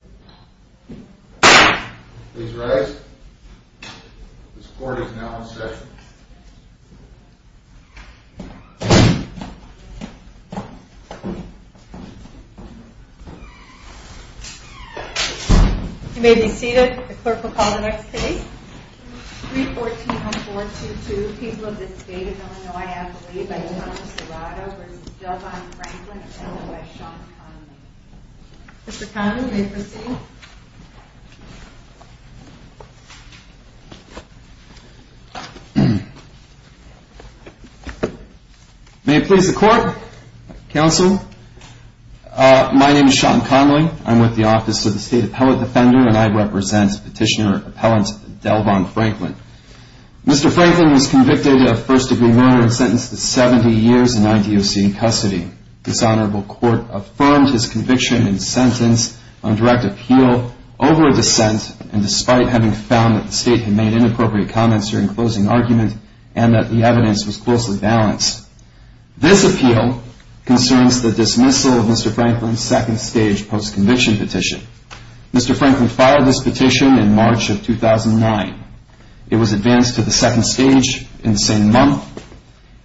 314-422, People of the State of Illinois, Appalachia, by Donald Serrato v. Delvon Franklin, attended by Sean Conlon. Mr. Conlon, may you proceed? May it please the Court, Counsel. My name is Sean Conlon. I'm with the Office of the State Appellate Defender, and I represent Petitioner Appellant Delvon Franklin. Mr. Franklin was convicted of first-degree murder and sentenced to 70 years in IDOC custody. This Honorable Court affirmed his conviction and sentence on direct appeal over a dissent, and despite having found that the State had made inappropriate comments during closing argument and that the evidence was closely balanced. This appeal concerns the dismissal of Mr. Franklin's second-stage post-conviction petition. Mr. Franklin filed this petition in March of 2009. It was advanced to the second stage in the same month.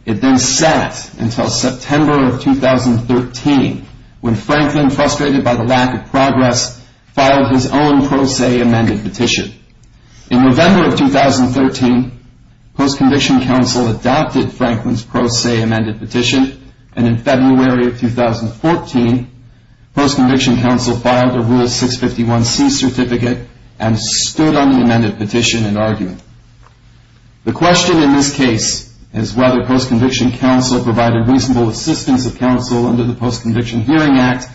It then sat until September of 2013, when Franklin, frustrated by the lack of progress, filed his own pro se amended petition. In November of 2013, Post-Conviction Counsel adopted Franklin's pro se amended petition, and in February of 2014, Post-Conviction Counsel filed a Rule 651C certificate and stood on the amended petition in argument. The question in this case is whether Post-Conviction Counsel provided reasonable assistance of counsel under the Post-Conviction Hearing Act,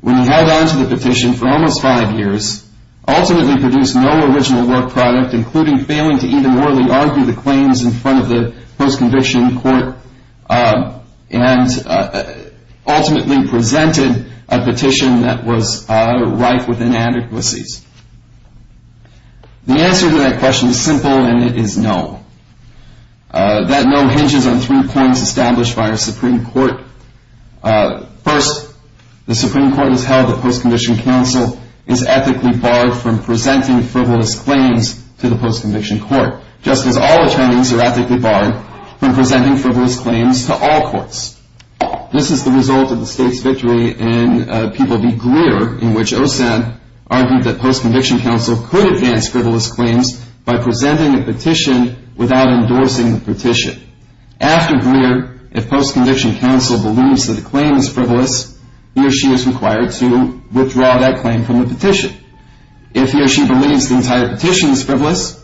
when he held on to the petition for almost five years, ultimately produced no original work product, including failing to even morally argue the claims in front of the Post-Conviction Court, and ultimately presented a petition that was rife with inadequacies. The answer to that question is simple, and it is no. That no hinges on three points established by our Supreme Court. First, the Supreme Court has held that Post-Conviction Counsel is ethically barred from presenting frivolous claims to the Post-Conviction Court, just as all attorneys are ethically barred from presenting frivolous claims to all courts. This is the result of the state's victory in People v. Greer, in which Osen argued that Post-Conviction Counsel could advance frivolous claims by presenting a petition without endorsing the petition. After Greer, if Post-Conviction Counsel believes that a claim is frivolous, he or she is required to withdraw that claim from the petition. If he or she believes the entire petition is frivolous,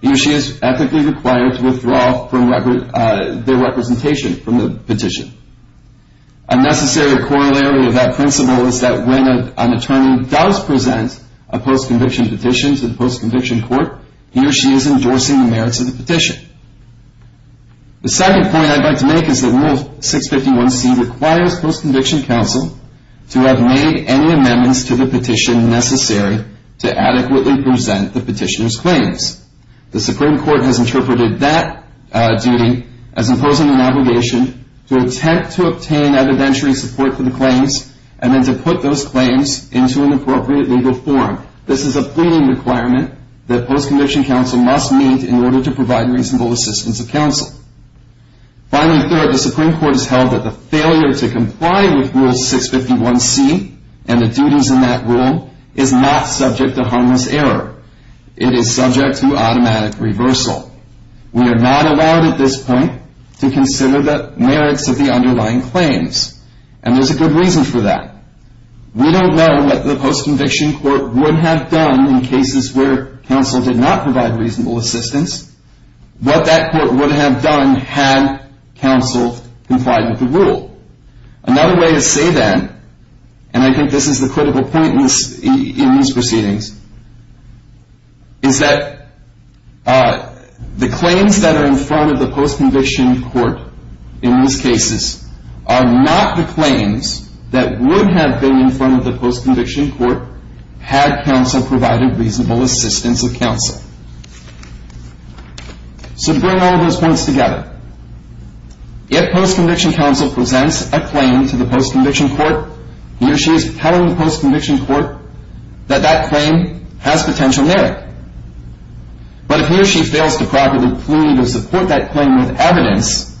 he or she is ethically required to withdraw their representation from the petition. A necessary corollary of that principle is that when an attorney does present a Post-Conviction petition to the Post-Conviction Court, he or she is endorsing the merits of the petition. The second point I'd like to make is that Rule 651C requires Post-Conviction Counsel to have made any amendments to the petition necessary to adequately present the petitioner's claims. The Supreme Court has interpreted that duty as imposing an obligation to attempt to obtain evidentiary support for the claims and then to put those claims into an appropriate legal form. This is a pleading requirement that Post-Conviction Counsel must meet in order to provide reasonable assistance of counsel. Finally, third, the Supreme Court has held that the failure to comply with Rule 651C and the duties in that rule is not subject to harmless error. It is subject to automatic reversal. We are not allowed at this point to consider the merits of the underlying claims, and there's a good reason for that. We don't know what the Post-Conviction Court would have done in cases where counsel did not provide reasonable assistance, what that court would have done had counsel complied with the rule. Another way to say that, and I think this is the critical point in these proceedings, is that the claims that are in front of the Post-Conviction Court in these cases are not the claims that would have been in front of the Post-Conviction Court had counsel provided reasonable assistance of counsel. So to bring all of those points together, if Post-Conviction Counsel presents a claim to the Post-Conviction Court, he or she is telling the Post-Conviction Court that that claim has potential merit. But if he or she fails to properly plead or support that claim with evidence,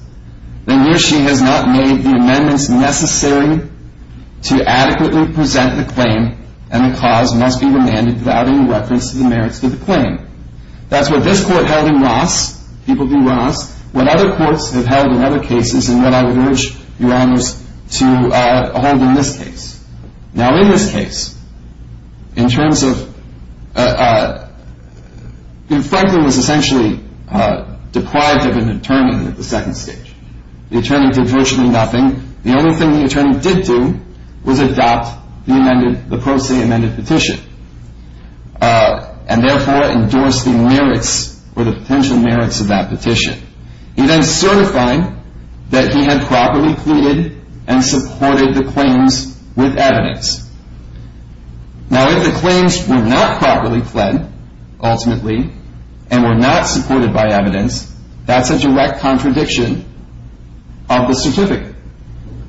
then he or she has not made the amendments necessary to adequately present the claim, and the cause must be remanded without any reference to the merits of the claim. That's what this Court held in Ross. People do Ross. What other courts have held in other cases, and what I would urge Your Honors to hold in this case. Now, in this case, in terms of, you know, Franklin was essentially deprived of an attorney at the second stage. The attorney did virtually nothing. The only thing the attorney did do was adopt the amended, the pro se amended petition, and therefore endorse the merits or the potential merits of that petition. He then certified that he had properly pleaded and supported the claims with evidence. Now, if the claims were not properly pled, ultimately, and were not supported by evidence, that's a direct contradiction of the certificate.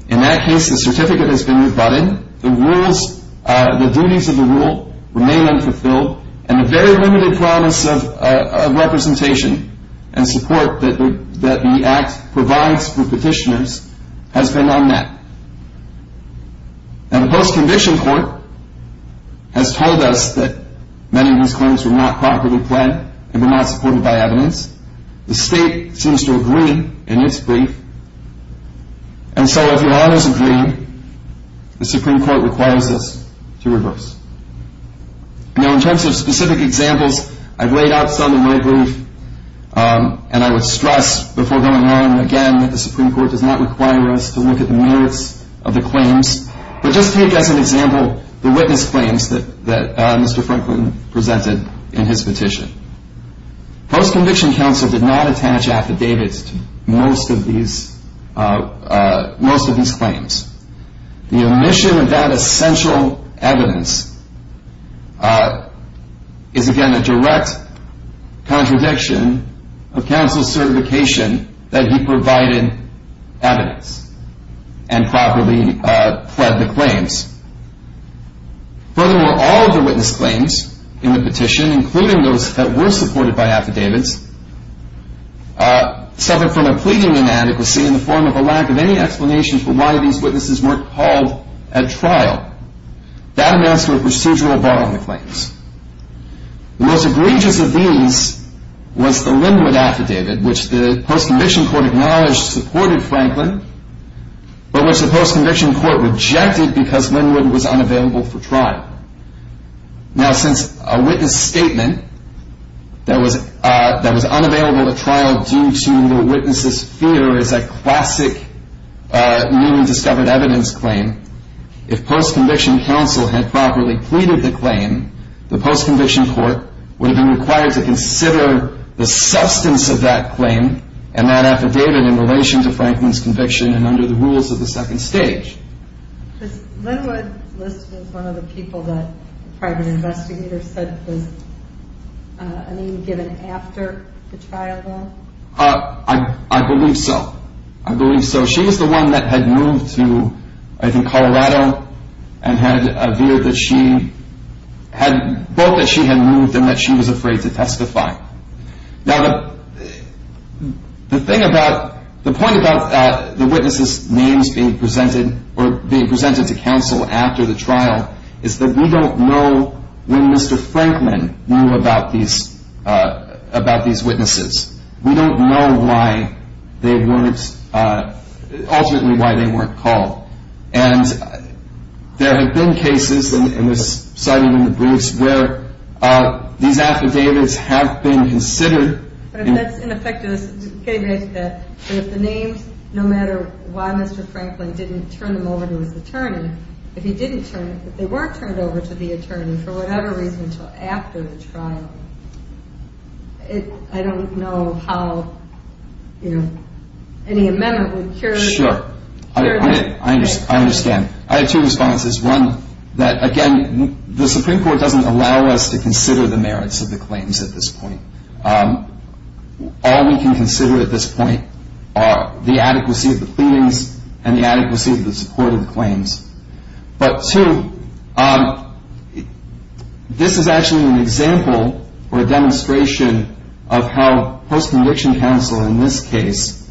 In that case, the certificate has been rebutted. The duties of the rule remain unfulfilled, and the very limited promise of representation and support that the Act provides for petitioners has been unmet. Now, the post-conviction court has told us that many of his claims were not properly pled and were not supported by evidence. The State seems to agree in its brief. And so, if Your Honors agree, the Supreme Court requires us to reverse. Now, in terms of specific examples, I've laid out some in my brief, and I would stress before going on again that the Supreme Court does not require us to look at the merits of the claims, but just take as an example the witness claims that Mr. Franklin presented in his petition. Post-conviction counsel did not attach affidavits to most of these claims. The omission of that essential evidence is, again, a direct contradiction of counsel's certification that he provided evidence and properly pled the claims. Furthermore, all of the witness claims in the petition, including those that were supported by affidavits, suffered from a pleading inadequacy in the form of a lack of any explanation for why these witnesses weren't called at trial. That amounts to a procedural bar on the claims. The most egregious of these was the Linwood affidavit, which the post-conviction court acknowledged supported Franklin, but which the post-conviction court rejected because Linwood was unavailable for trial. Now, since a witness statement that was unavailable at trial due to the witness's fear is a classic new and discovered evidence claim, if post-conviction counsel had properly pleaded the claim, the post-conviction court would have been required to consider the substance of that claim and that affidavit in relation to Franklin's conviction and under the rules of the second stage. Was Linwood listed as one of the people that private investigators said was a name given after the trial went? I believe so. I believe so. She is the one that had moved to, I think, Colorado and had a view that she had – both that she had moved and that she was afraid to testify. Now, the thing about – the point about the witness's names being presented or being presented to counsel after the trial is that we don't know when Mr. Franklin knew about these witnesses. We don't know why they weren't – ultimately why they weren't called. And there have been cases, and this is cited in the briefs, where these affidavits have been considered. But that's ineffective. Getting back to that, if the names, no matter why Mr. Franklin didn't turn them over to his attorney, if he didn't turn – if they were turned over to the attorney for whatever reason until after the trial, I don't know how any amendment would cure that. Sure. I understand. I have two responses. One, that, again, the Supreme Court doesn't allow us to consider the merits of the claims at this point. All we can consider at this point are the adequacy of the pleadings and the adequacy of the support of the claims. But two, this is actually an example or a demonstration of how post-conviction counsel in this case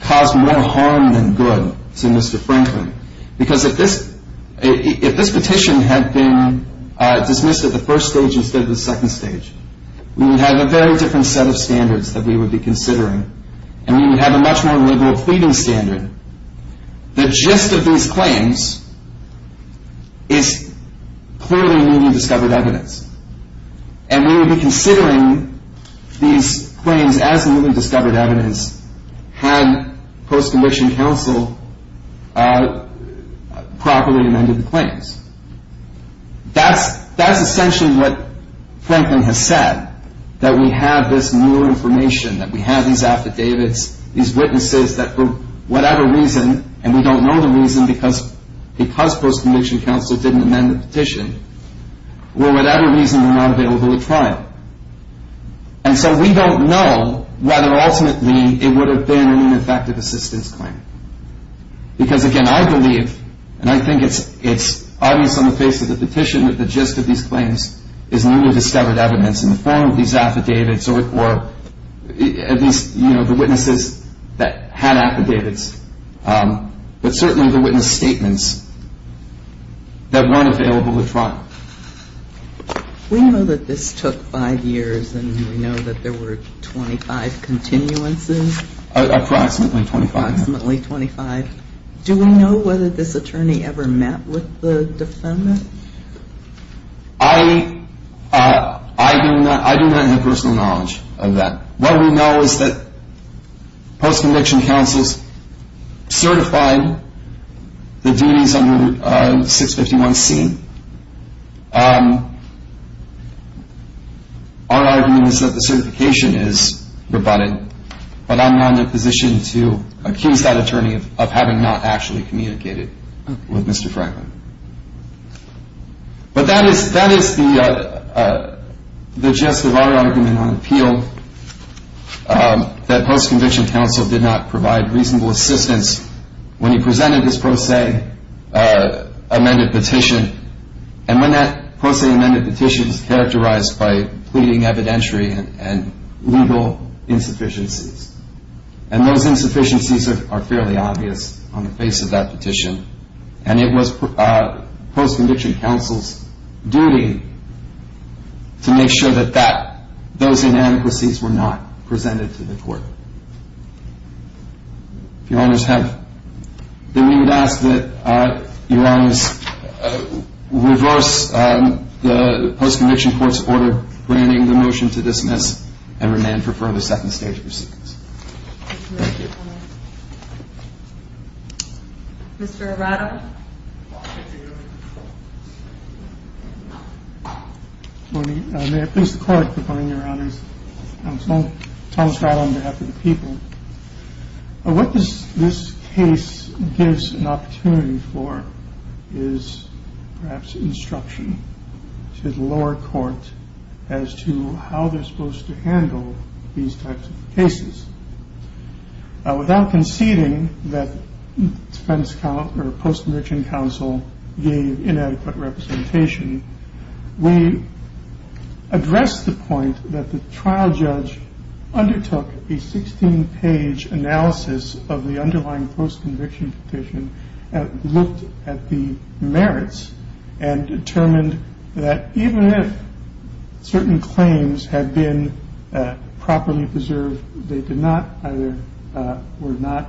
caused more harm than good to Mr. Franklin. Because if this petition had been dismissed at the first stage instead of the second stage, we would have a very different set of standards that we would be considering, and we would have a much more liberal pleading standard. The gist of these claims is clearly newly discovered evidence. And we would be considering these claims as newly discovered evidence had post-conviction counsel properly amended the claims. That's essentially what Franklin has said, that we have this new information, that we have these affidavits, these witnesses that for whatever reason, and we don't know the reason because post-conviction counsel didn't amend the petition, for whatever reason were not available at trial. And so we don't know whether ultimately it would have been an ineffective assistance claim. Because, again, I believe, and I think it's obvious on the face of the petition, that the gist of these claims is newly discovered evidence in the form of these affidavits or at least the witnesses that had affidavits, but certainly the witness statements that weren't available at trial. We know that this took five years, and we know that there were 25 continuances. Approximately 25. Approximately 25. Do we know whether this attorney ever met with the defendant? I do not have personal knowledge of that. What we know is that post-conviction counsels certify the duties under 651C. Our argument is that the certification is rebutted, but I'm not in a position to accuse that attorney of having not actually communicated with Mr. Franklin. But that is the gist of our argument on appeal, that post-conviction counsel did not provide reasonable assistance when he presented his pro se amended petition, and when that pro se amended petition is characterized by pleading evidentiary and legal insufficiencies. And those insufficiencies are fairly obvious on the face of that petition. And it was post-conviction counsel's duty to make sure that those inadequacies were not presented to the court. If Your Honors have any, we would ask that Your Honors reverse the post-conviction court's order granting the motion to dismiss and remand for further second stage proceedings. Thank you. Mr. Arado. Good morning. May I please call upon Your Honors Counsel Thomas Arado on behalf of the people. What this case gives an opportunity for is perhaps instruction to the lower court as to how they're supposed to handle these types of cases. Without conceding that defense counsel or post-conviction counsel gave inadequate representation, we address the point that the trial judge undertook a 16-page analysis of the underlying post-conviction petition and looked at the merits and determined that even if certain claims had been properly preserved, they were not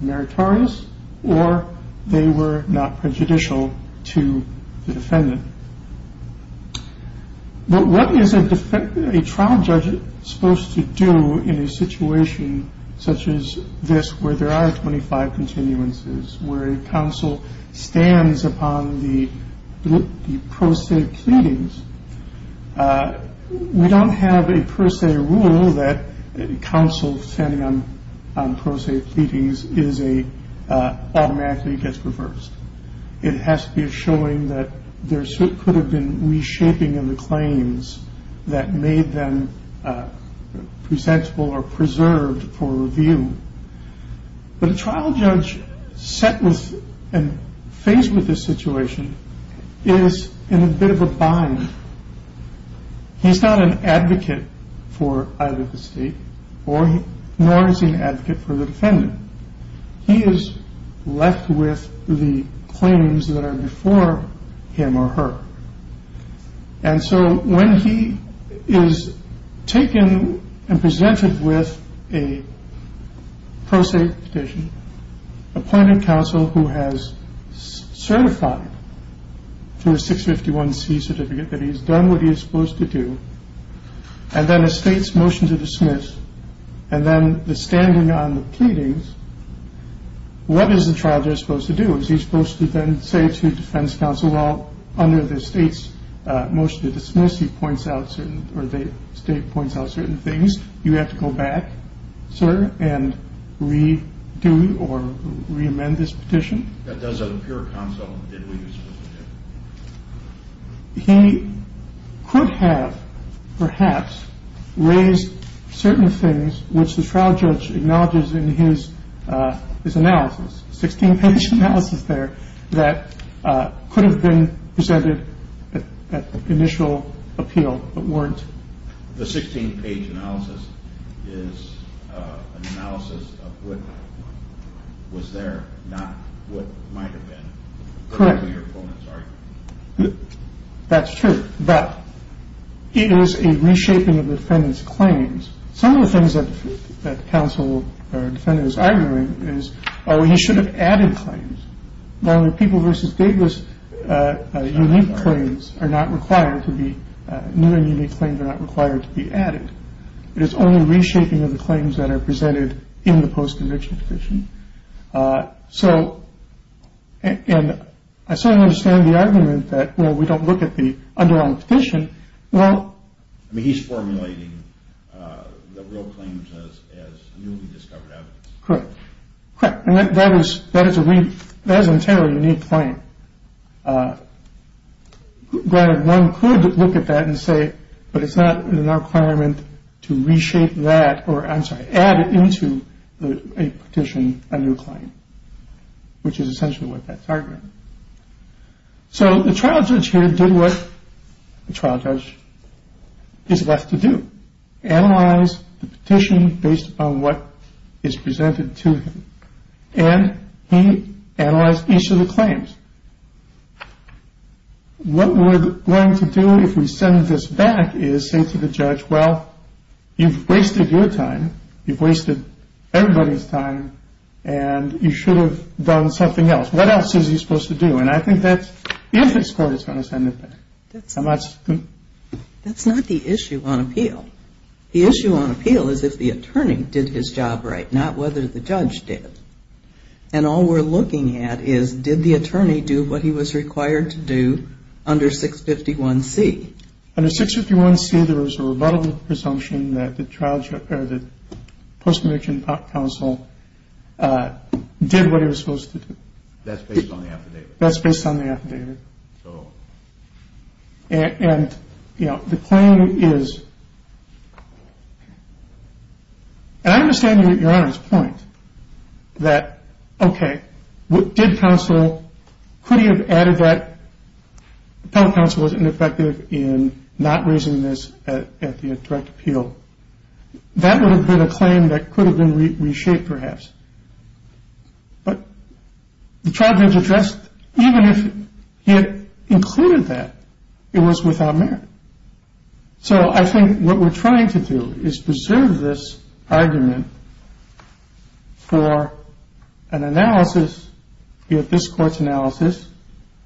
meritorious or they were not prejudicial to the defendant. But what is a trial judge supposed to do in a situation such as this where there are 25 continuances, where a counsel stands upon the pro se pleadings, we don't have a pro se rule that counsel standing on pro se pleadings automatically gets reversed. It has to be a showing that there could have been reshaping of the claims that made them presentable or preserved for review. But a trial judge set with and faced with this situation is in a bit of a bind. He's not an advocate for either the state nor is he an advocate for the defendant. He is left with the claims that are before him or her. And so when he is taken and presented with a pro se petition, appointed counsel who has certified through a 651C certificate that he's done what he is supposed to do, and then a state's motion to dismiss, and then the standing on the pleadings, what is the trial judge supposed to do? Is he supposed to then say to defense counsel, well, under the state's motion to dismiss, he points out certain or the state points out certain things. You have to go back, sir, and redo or reamend this petition. That doesn't appear counsel. He could have perhaps raised certain things which the trial judge acknowledges in his analysis. Sixteen page analysis there that could have been presented at the initial appeal, but weren't. The 16 page analysis is an analysis of what was there, not what might have been. Correct. That's true. But it is a reshaping of the defendant's claims. Some of the things that counsel or defendant is arguing is, oh, he should have added claims. People versus Davis unique claims are not required to be new and unique claims are not required to be added. It is only reshaping of the claims that are presented in the post-conviction petition. So I certainly understand the argument that, well, we don't look at the underlying petition. Well, I mean, he's formulating the real claims as newly discovered evidence. Correct. Correct. And that was that is a week. That is entirely unique claim. One could look at that and say, but it's not an requirement to reshape that or add it into a petition, a new claim, which is essentially what that's arguing. So the trial judge here did what the trial judge is left to do. Analyze the petition based on what is presented to him. And he analyzed each of the claims. What we're going to do if we send this back is say to the judge, well, you've wasted your time. You've wasted everybody's time and you should have done something else. What else is he supposed to do? And I think that's if this court is going to send it back. That's not the issue on appeal. The issue on appeal is if the attorney did his job right, not whether the judge did. And all we're looking at is did the attorney do what he was required to do under 651C? Under 651C, there was a rebuttal presumption that the trial judge or the post-conviction counsel did what he was supposed to do. That's based on the affidavit. That's based on the affidavit. And, you know, the claim is – and I understand Your Honor's point that, okay, did counsel – could he have added that the appellate counsel was ineffective in not raising this at the direct appeal? That would have been a claim that could have been reshaped perhaps. But the trial judge addressed – even if he had included that, it was without merit. So I think what we're trying to do is preserve this argument for an analysis, be it this Court's analysis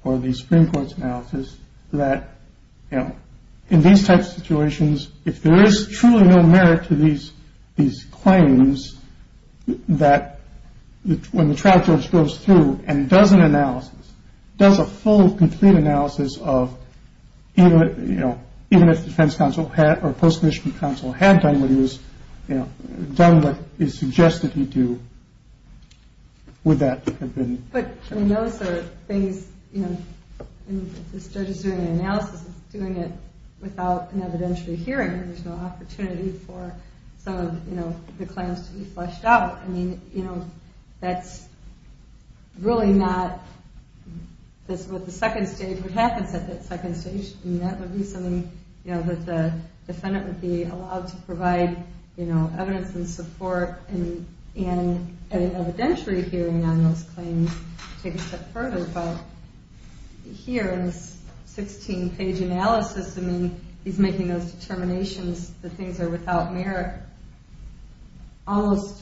or the Supreme Court's analysis, that, you know, in these types of situations, if there is truly no merit to these claims, that when the trial judge goes through and does an analysis, does a full, complete analysis of, you know, even if the defense counsel or post-conviction counsel had done what he was – done what he suggested he do, would that have been – But, I mean, those are things, you know, if this judge is doing an analysis, if he's doing it without an evidentiary hearing, there's no opportunity for some of, you know, the claims to be fleshed out. I mean, you know, that's really not what the second stage – what happens at that second stage. I mean, that would be something, you know, that the defendant would be allowed to provide, you know, evidence and support in an evidentiary hearing on those claims to take a step further. But here in this 16-page analysis, I mean, he's making those determinations that things are without merit, almost,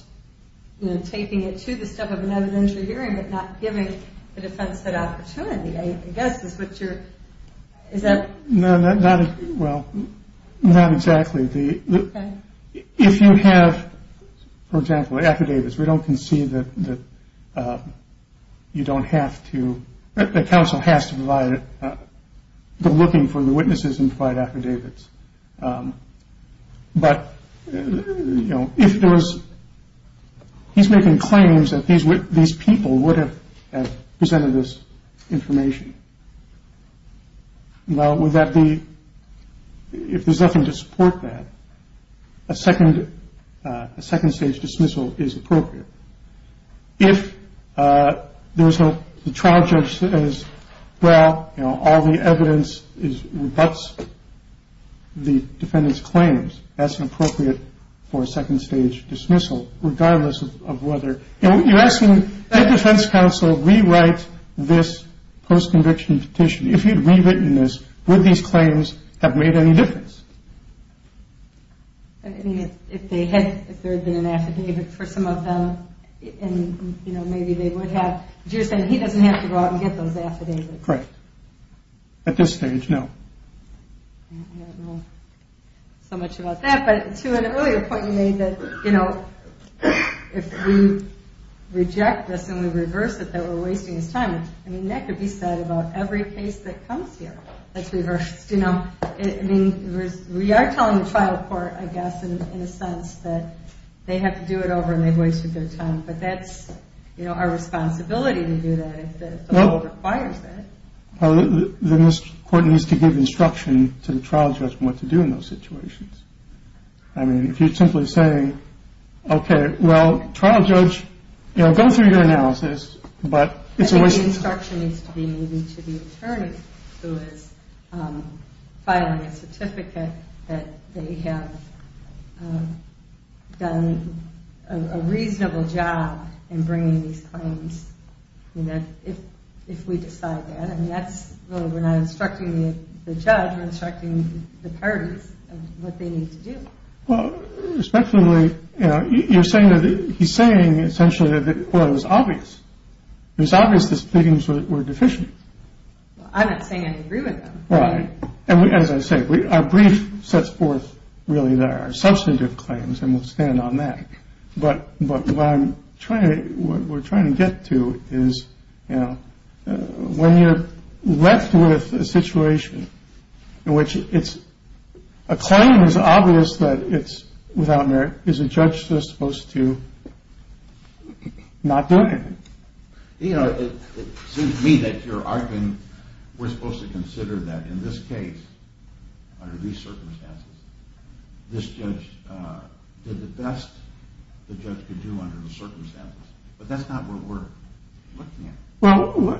you know, taking it to the step of an evidentiary hearing but not giving the defense that opportunity, I guess is what you're – is that – No, not – well, not exactly. If you have, for example, affidavits, we don't concede that you don't have to – that counsel has to provide – go looking for the witnesses and provide affidavits. But, you know, if there was – he's making claims that these people would have presented this information. Now, would that be – if there's nothing to support that, a second stage dismissal is appropriate. If there's no – the trial judge says, well, you know, all the evidence rebuts the defendant's claims, that's inappropriate for a second stage dismissal, regardless of whether – You're asking, did defense counsel rewrite this post-conviction petition? If you'd rewritten this, would these claims have made any difference? I mean, if they had – if there had been an affidavit for some of them, and, you know, maybe they would have, but you're saying he doesn't have to go out and get those affidavits. Correct. At this stage, no. I don't know so much about that, but to an earlier point you made that, you know, if we reject this and we reverse it, that we're wasting his time. I mean, that could be said about every case that comes here that's reversed. You know, I mean, we are telling the trial court, I guess, in a sense, that they have to do it over and they've wasted their time. But that's, you know, our responsibility to do that if the law requires it. Well, then this court needs to give instruction to the trial judge what to do in those situations. I mean, if you're simply saying, okay, well, trial judge, you know, go through your analysis, but it's a waste of time. I think the instruction needs to be given to the attorney who is filing a certificate that they have done a reasonable job in bringing these claims, you know, if we decide that. I mean, that's – well, we're not instructing the judge. We're not instructing the parties of what they need to do. Well, respectfully, you know, you're saying that – he's saying essentially that it was obvious. It was obvious these claims were deficient. Well, I'm not saying I agree with him. Right. And as I say, our brief sets forth really our substantive claims, and we'll stand on that. But what I'm trying – what we're trying to get to is, you know, when you're left with a situation in which it's – a claim is obvious that it's without merit. Is a judge supposed to not do anything? You know, it seems to me that you're arguing we're supposed to consider that in this case, under these circumstances, this judge did the best the judge could do under the circumstances. But that's not what we're looking at. Well,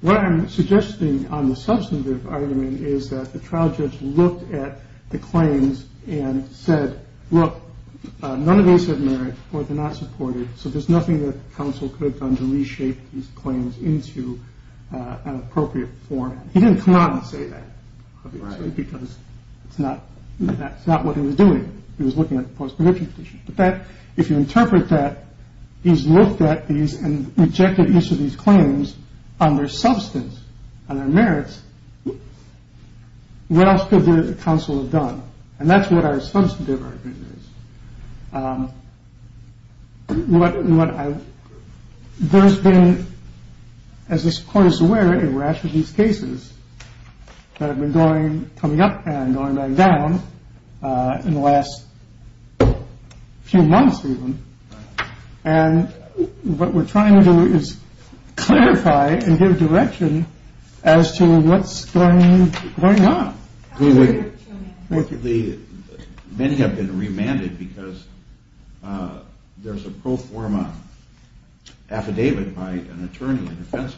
what I'm suggesting on the substantive argument is that the trial judge looked at the claims and said, look, none of those have merit or they're not supported, so there's nothing that counsel could have done to reshape these claims into an appropriate form. He didn't come out and say that because it's not – that's not what he was doing. He was looking at the post-prohibition position. But that – if you interpret that, he's looked at these and rejected each of these claims on their substance, on their merits, what else could the counsel have done? And that's what our substantive argument is. What I – there's been, as this court is aware, a rash of these cases that have been going – coming up and going back down in the last few months even. And what we're trying to do is clarify and give direction as to what's going on. Fortunately, many have been remanded because there's a pro forma affidavit by an attorney, a defense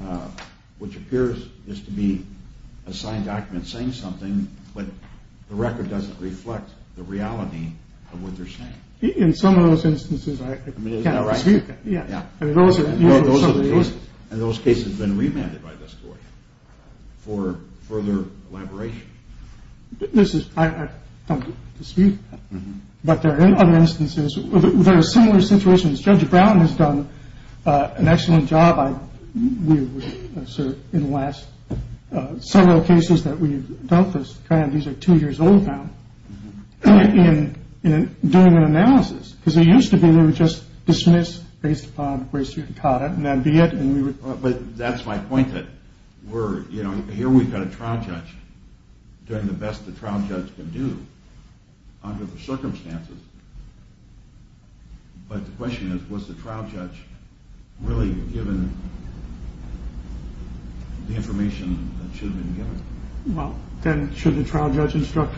attorney, which appears as to be a signed document saying something, but the record doesn't reflect the reality of what they're saying. In some of those instances, I can't speak. I mean, is that right? Yeah. This is – I don't get to speak. But there are other instances. There are similar situations. Judge Brown has done an excellent job. I – we have served in the last several cases that we've dealt with. These are two years old now in doing an analysis. Because they used to be they were just dismissed based upon where you caught it, and that'd be it. But that's my point, that we're – you know, here we've got a trial judge doing the best the trial judge can do under the circumstances. But the question is, was the trial judge really given the information that should have been given? Well, then should the trial judge instruct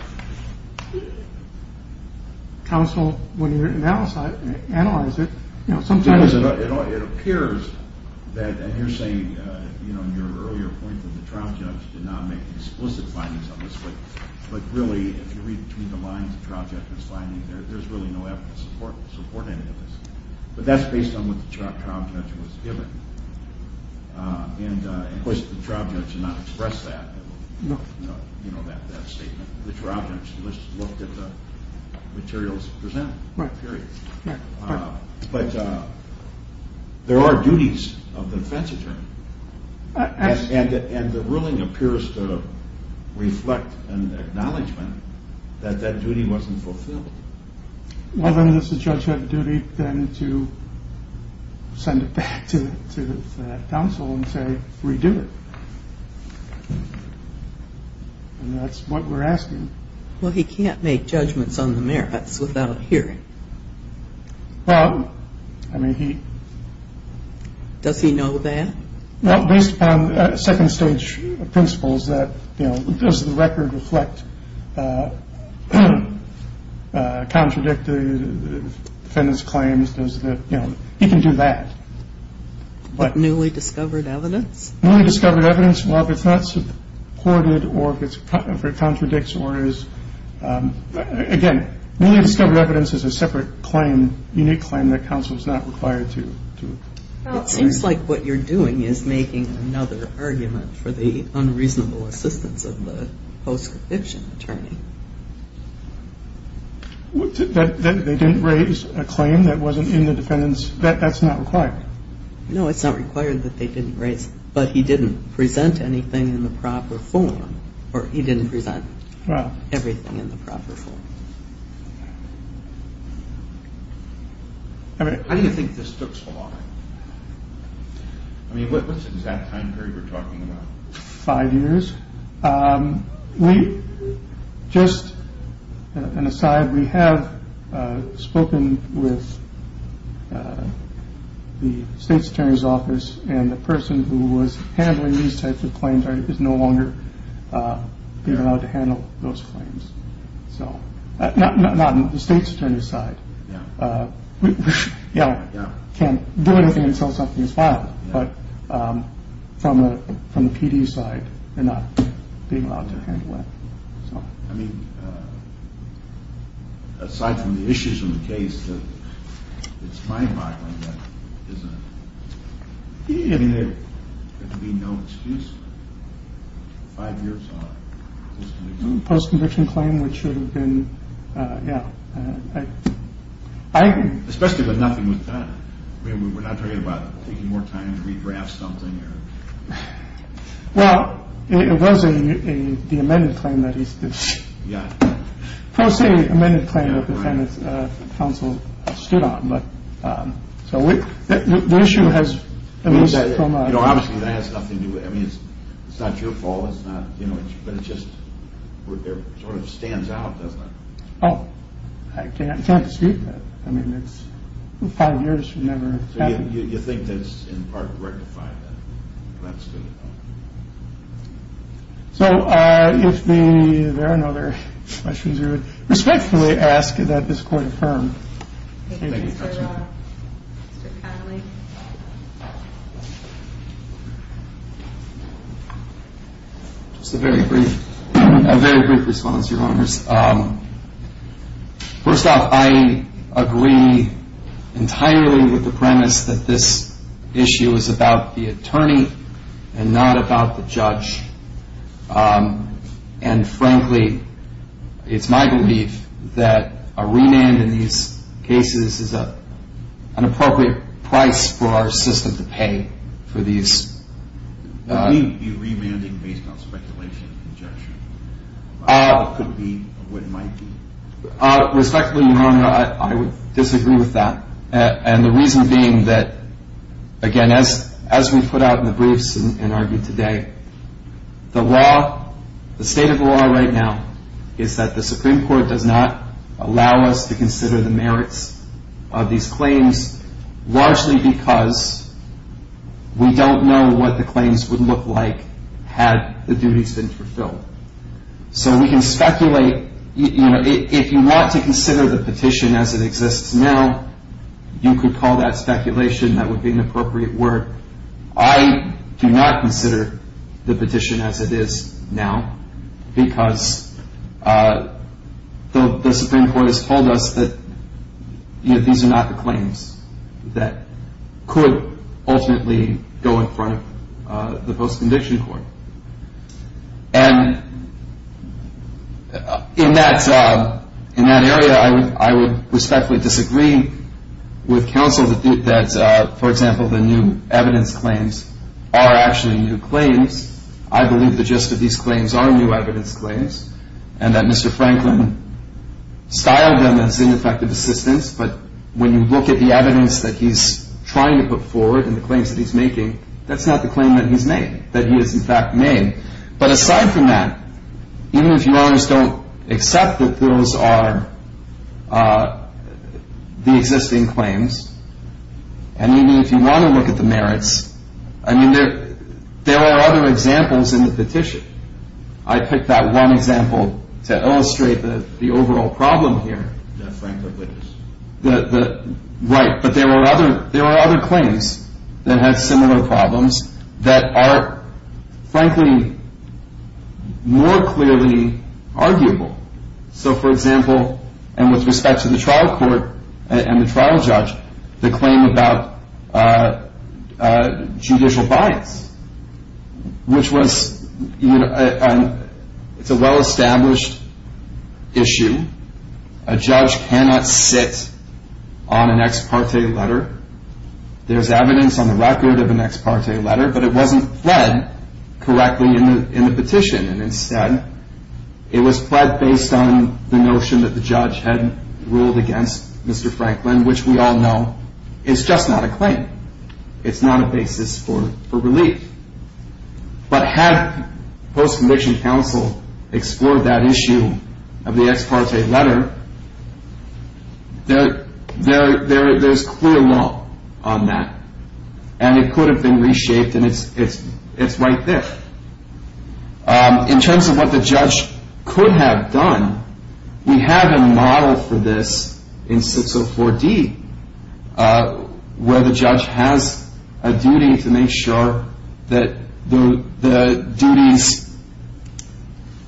counsel when you analyze it? It appears that – and you're saying, you know, in your earlier point that the trial judge did not make explicit findings on this. But really, if you read between the lines of the trial judge's findings, there's really no evidence to support any of this. But that's based on what the trial judge was given. And, of course, the trial judge did not express that, you know, that statement. The trial judge just looked at the materials presented, period. But there are duties of the defense attorney. And the ruling appears to reflect an acknowledgment that that duty wasn't fulfilled. Well, then does the judge have a duty then to send it back to the counsel and say, redo it? And that's what we're asking. Well, he can't make judgments on the merits without hearing. Well, I mean, he – Does he know that? Well, based upon second-stage principles that, you know, does the record reflect contradicted defendants' claims? Does the – you know, he can do that. But newly discovered evidence? Newly discovered evidence, well, if it's not supported or if it contradicts or is – again, newly discovered evidence is a separate claim, unique claim that counsel is not required to – It seems like what you're doing is making another argument for the unreasonable assistance of the post-conviction attorney. That they didn't raise a claim that wasn't in the defendants' – that's not required? No, it's not required that they didn't raise – but he didn't present anything in the proper form. Or he didn't present everything in the proper form. How do you think this took so long? I mean, what's the exact time period we're talking about? Five years. We – just an aside, we have spoken with the state's attorney's office and the person who was handling these types of claims is no longer being allowed to handle those claims. So – not on the state's attorney's side. Yeah. Can't do anything until something is filed. But from the PD's side, they're not being allowed to handle that. I mean, aside from the issues in the case, it's my mind that isn't – I mean, there could be no excuse. Five years on. Post-conviction claim, which should have been – yeah, I agree. Especially when nothing was done. I mean, we're not talking about taking more time to redraft something or – Well, it was a – the amended claim that he stood – Yeah. Pro se amended claim that the defendant's counsel stood on, but – So the issue has – You know, obviously that has nothing to – I mean, it's not your fault. It's not – you know, but it just sort of stands out, doesn't it? Oh, I can't dispute that. I mean, it's five years from now. So you think that's in part rectifying that? That's good to know. So if the – there are no other questions. I respectfully ask that this court affirm. Thank you, Judge. Mr. Connolly. Just a very brief – a very brief response, Your Honors. First off, I agree entirely with the premise that this issue is about the attorney and not about the judge. And frankly, it's my belief that a remand in these cases is an appropriate price for our system to pay for these – Wouldn't you be remanding based on speculation and conjecture? It could be what it might be. Respectfully, Your Honor, I would disagree with that. And the reason being that, again, as we put out in the briefs and argued today, the law – the state of the law right now is that the Supreme Court does not allow us to consider the merits of these claims, largely because we don't know what the claims would look like had the duties been fulfilled. So we can speculate – you know, if you want to consider the petition as it exists now, you could call that speculation. That would be an appropriate word. However, I do not consider the petition as it is now because the Supreme Court has told us that, you know, these are not the claims that could ultimately go in front of the post-conviction court. And in that area, I would respectfully disagree with counsel that, for example, the new evidence claims are actually new claims. I believe the gist of these claims are new evidence claims and that Mr. Franklin styled them as ineffective assistance. But when you look at the evidence that he's trying to put forward and the claims that he's making, that's not the claim that he's made – that he has, in fact, made. But aside from that, even if you always don't accept that those are the existing claims, and even if you want to look at the merits, I mean, there are other examples in the petition. I picked that one example to illustrate the overall problem here. Right, but there are other claims that have similar problems that are, frankly, more clearly arguable. So, for example, and with respect to the trial court and the trial judge, the claim about judicial bias, which was – it's a well-established issue. A judge cannot sit on an ex parte letter. There's evidence on the record of an ex parte letter, but it wasn't pled correctly in the petition. And instead, it was pled based on the notion that the judge had ruled against Mr. Franklin, which we all know is just not a claim. It's not a basis for relief. But had post-conviction counsel explored that issue of the ex parte letter, there's clear law on that. And it could have been reshaped, and it's right there. In terms of what the judge could have done, we have a model for this in 604D, where the judge has a duty to make sure that the duties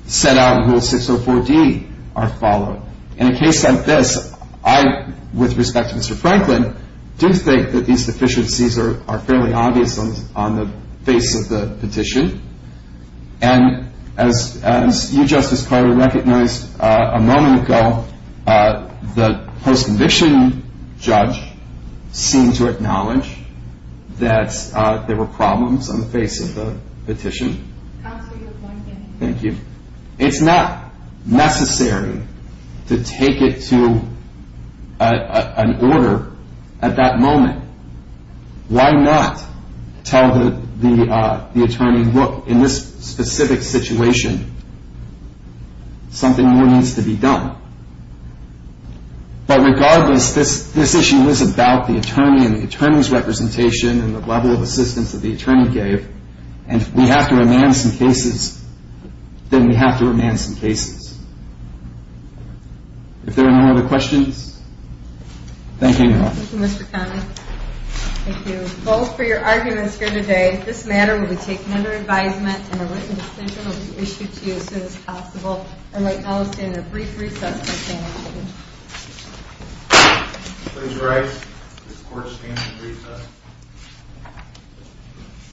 set out in Rule 604D are followed. In a case like this, I, with respect to Mr. Franklin, do think that these deficiencies are fairly obvious on the face of the petition. And as you, Justice Carter, recognized a moment ago, the post-conviction judge seemed to acknowledge that there were problems on the face of the petition. Counsel, you have one minute. Thank you. It's not necessary to take it to an order at that moment. Why not tell the attorney, look, in this specific situation, something more needs to be done? But regardless, this issue was about the attorney and the attorney's representation and the level of assistance that the attorney gave. And if we have to remand some cases, then we have to remand some cases. If there are no other questions, thank you, Your Honor. Thank you, Mr. Connolly. Thank you both for your arguments here today. This matter will be taken under advisement, and a written decision will be issued to you as soon as possible. I would like now to stand in a brief recess to abstain. Please rise. This court stands in recess.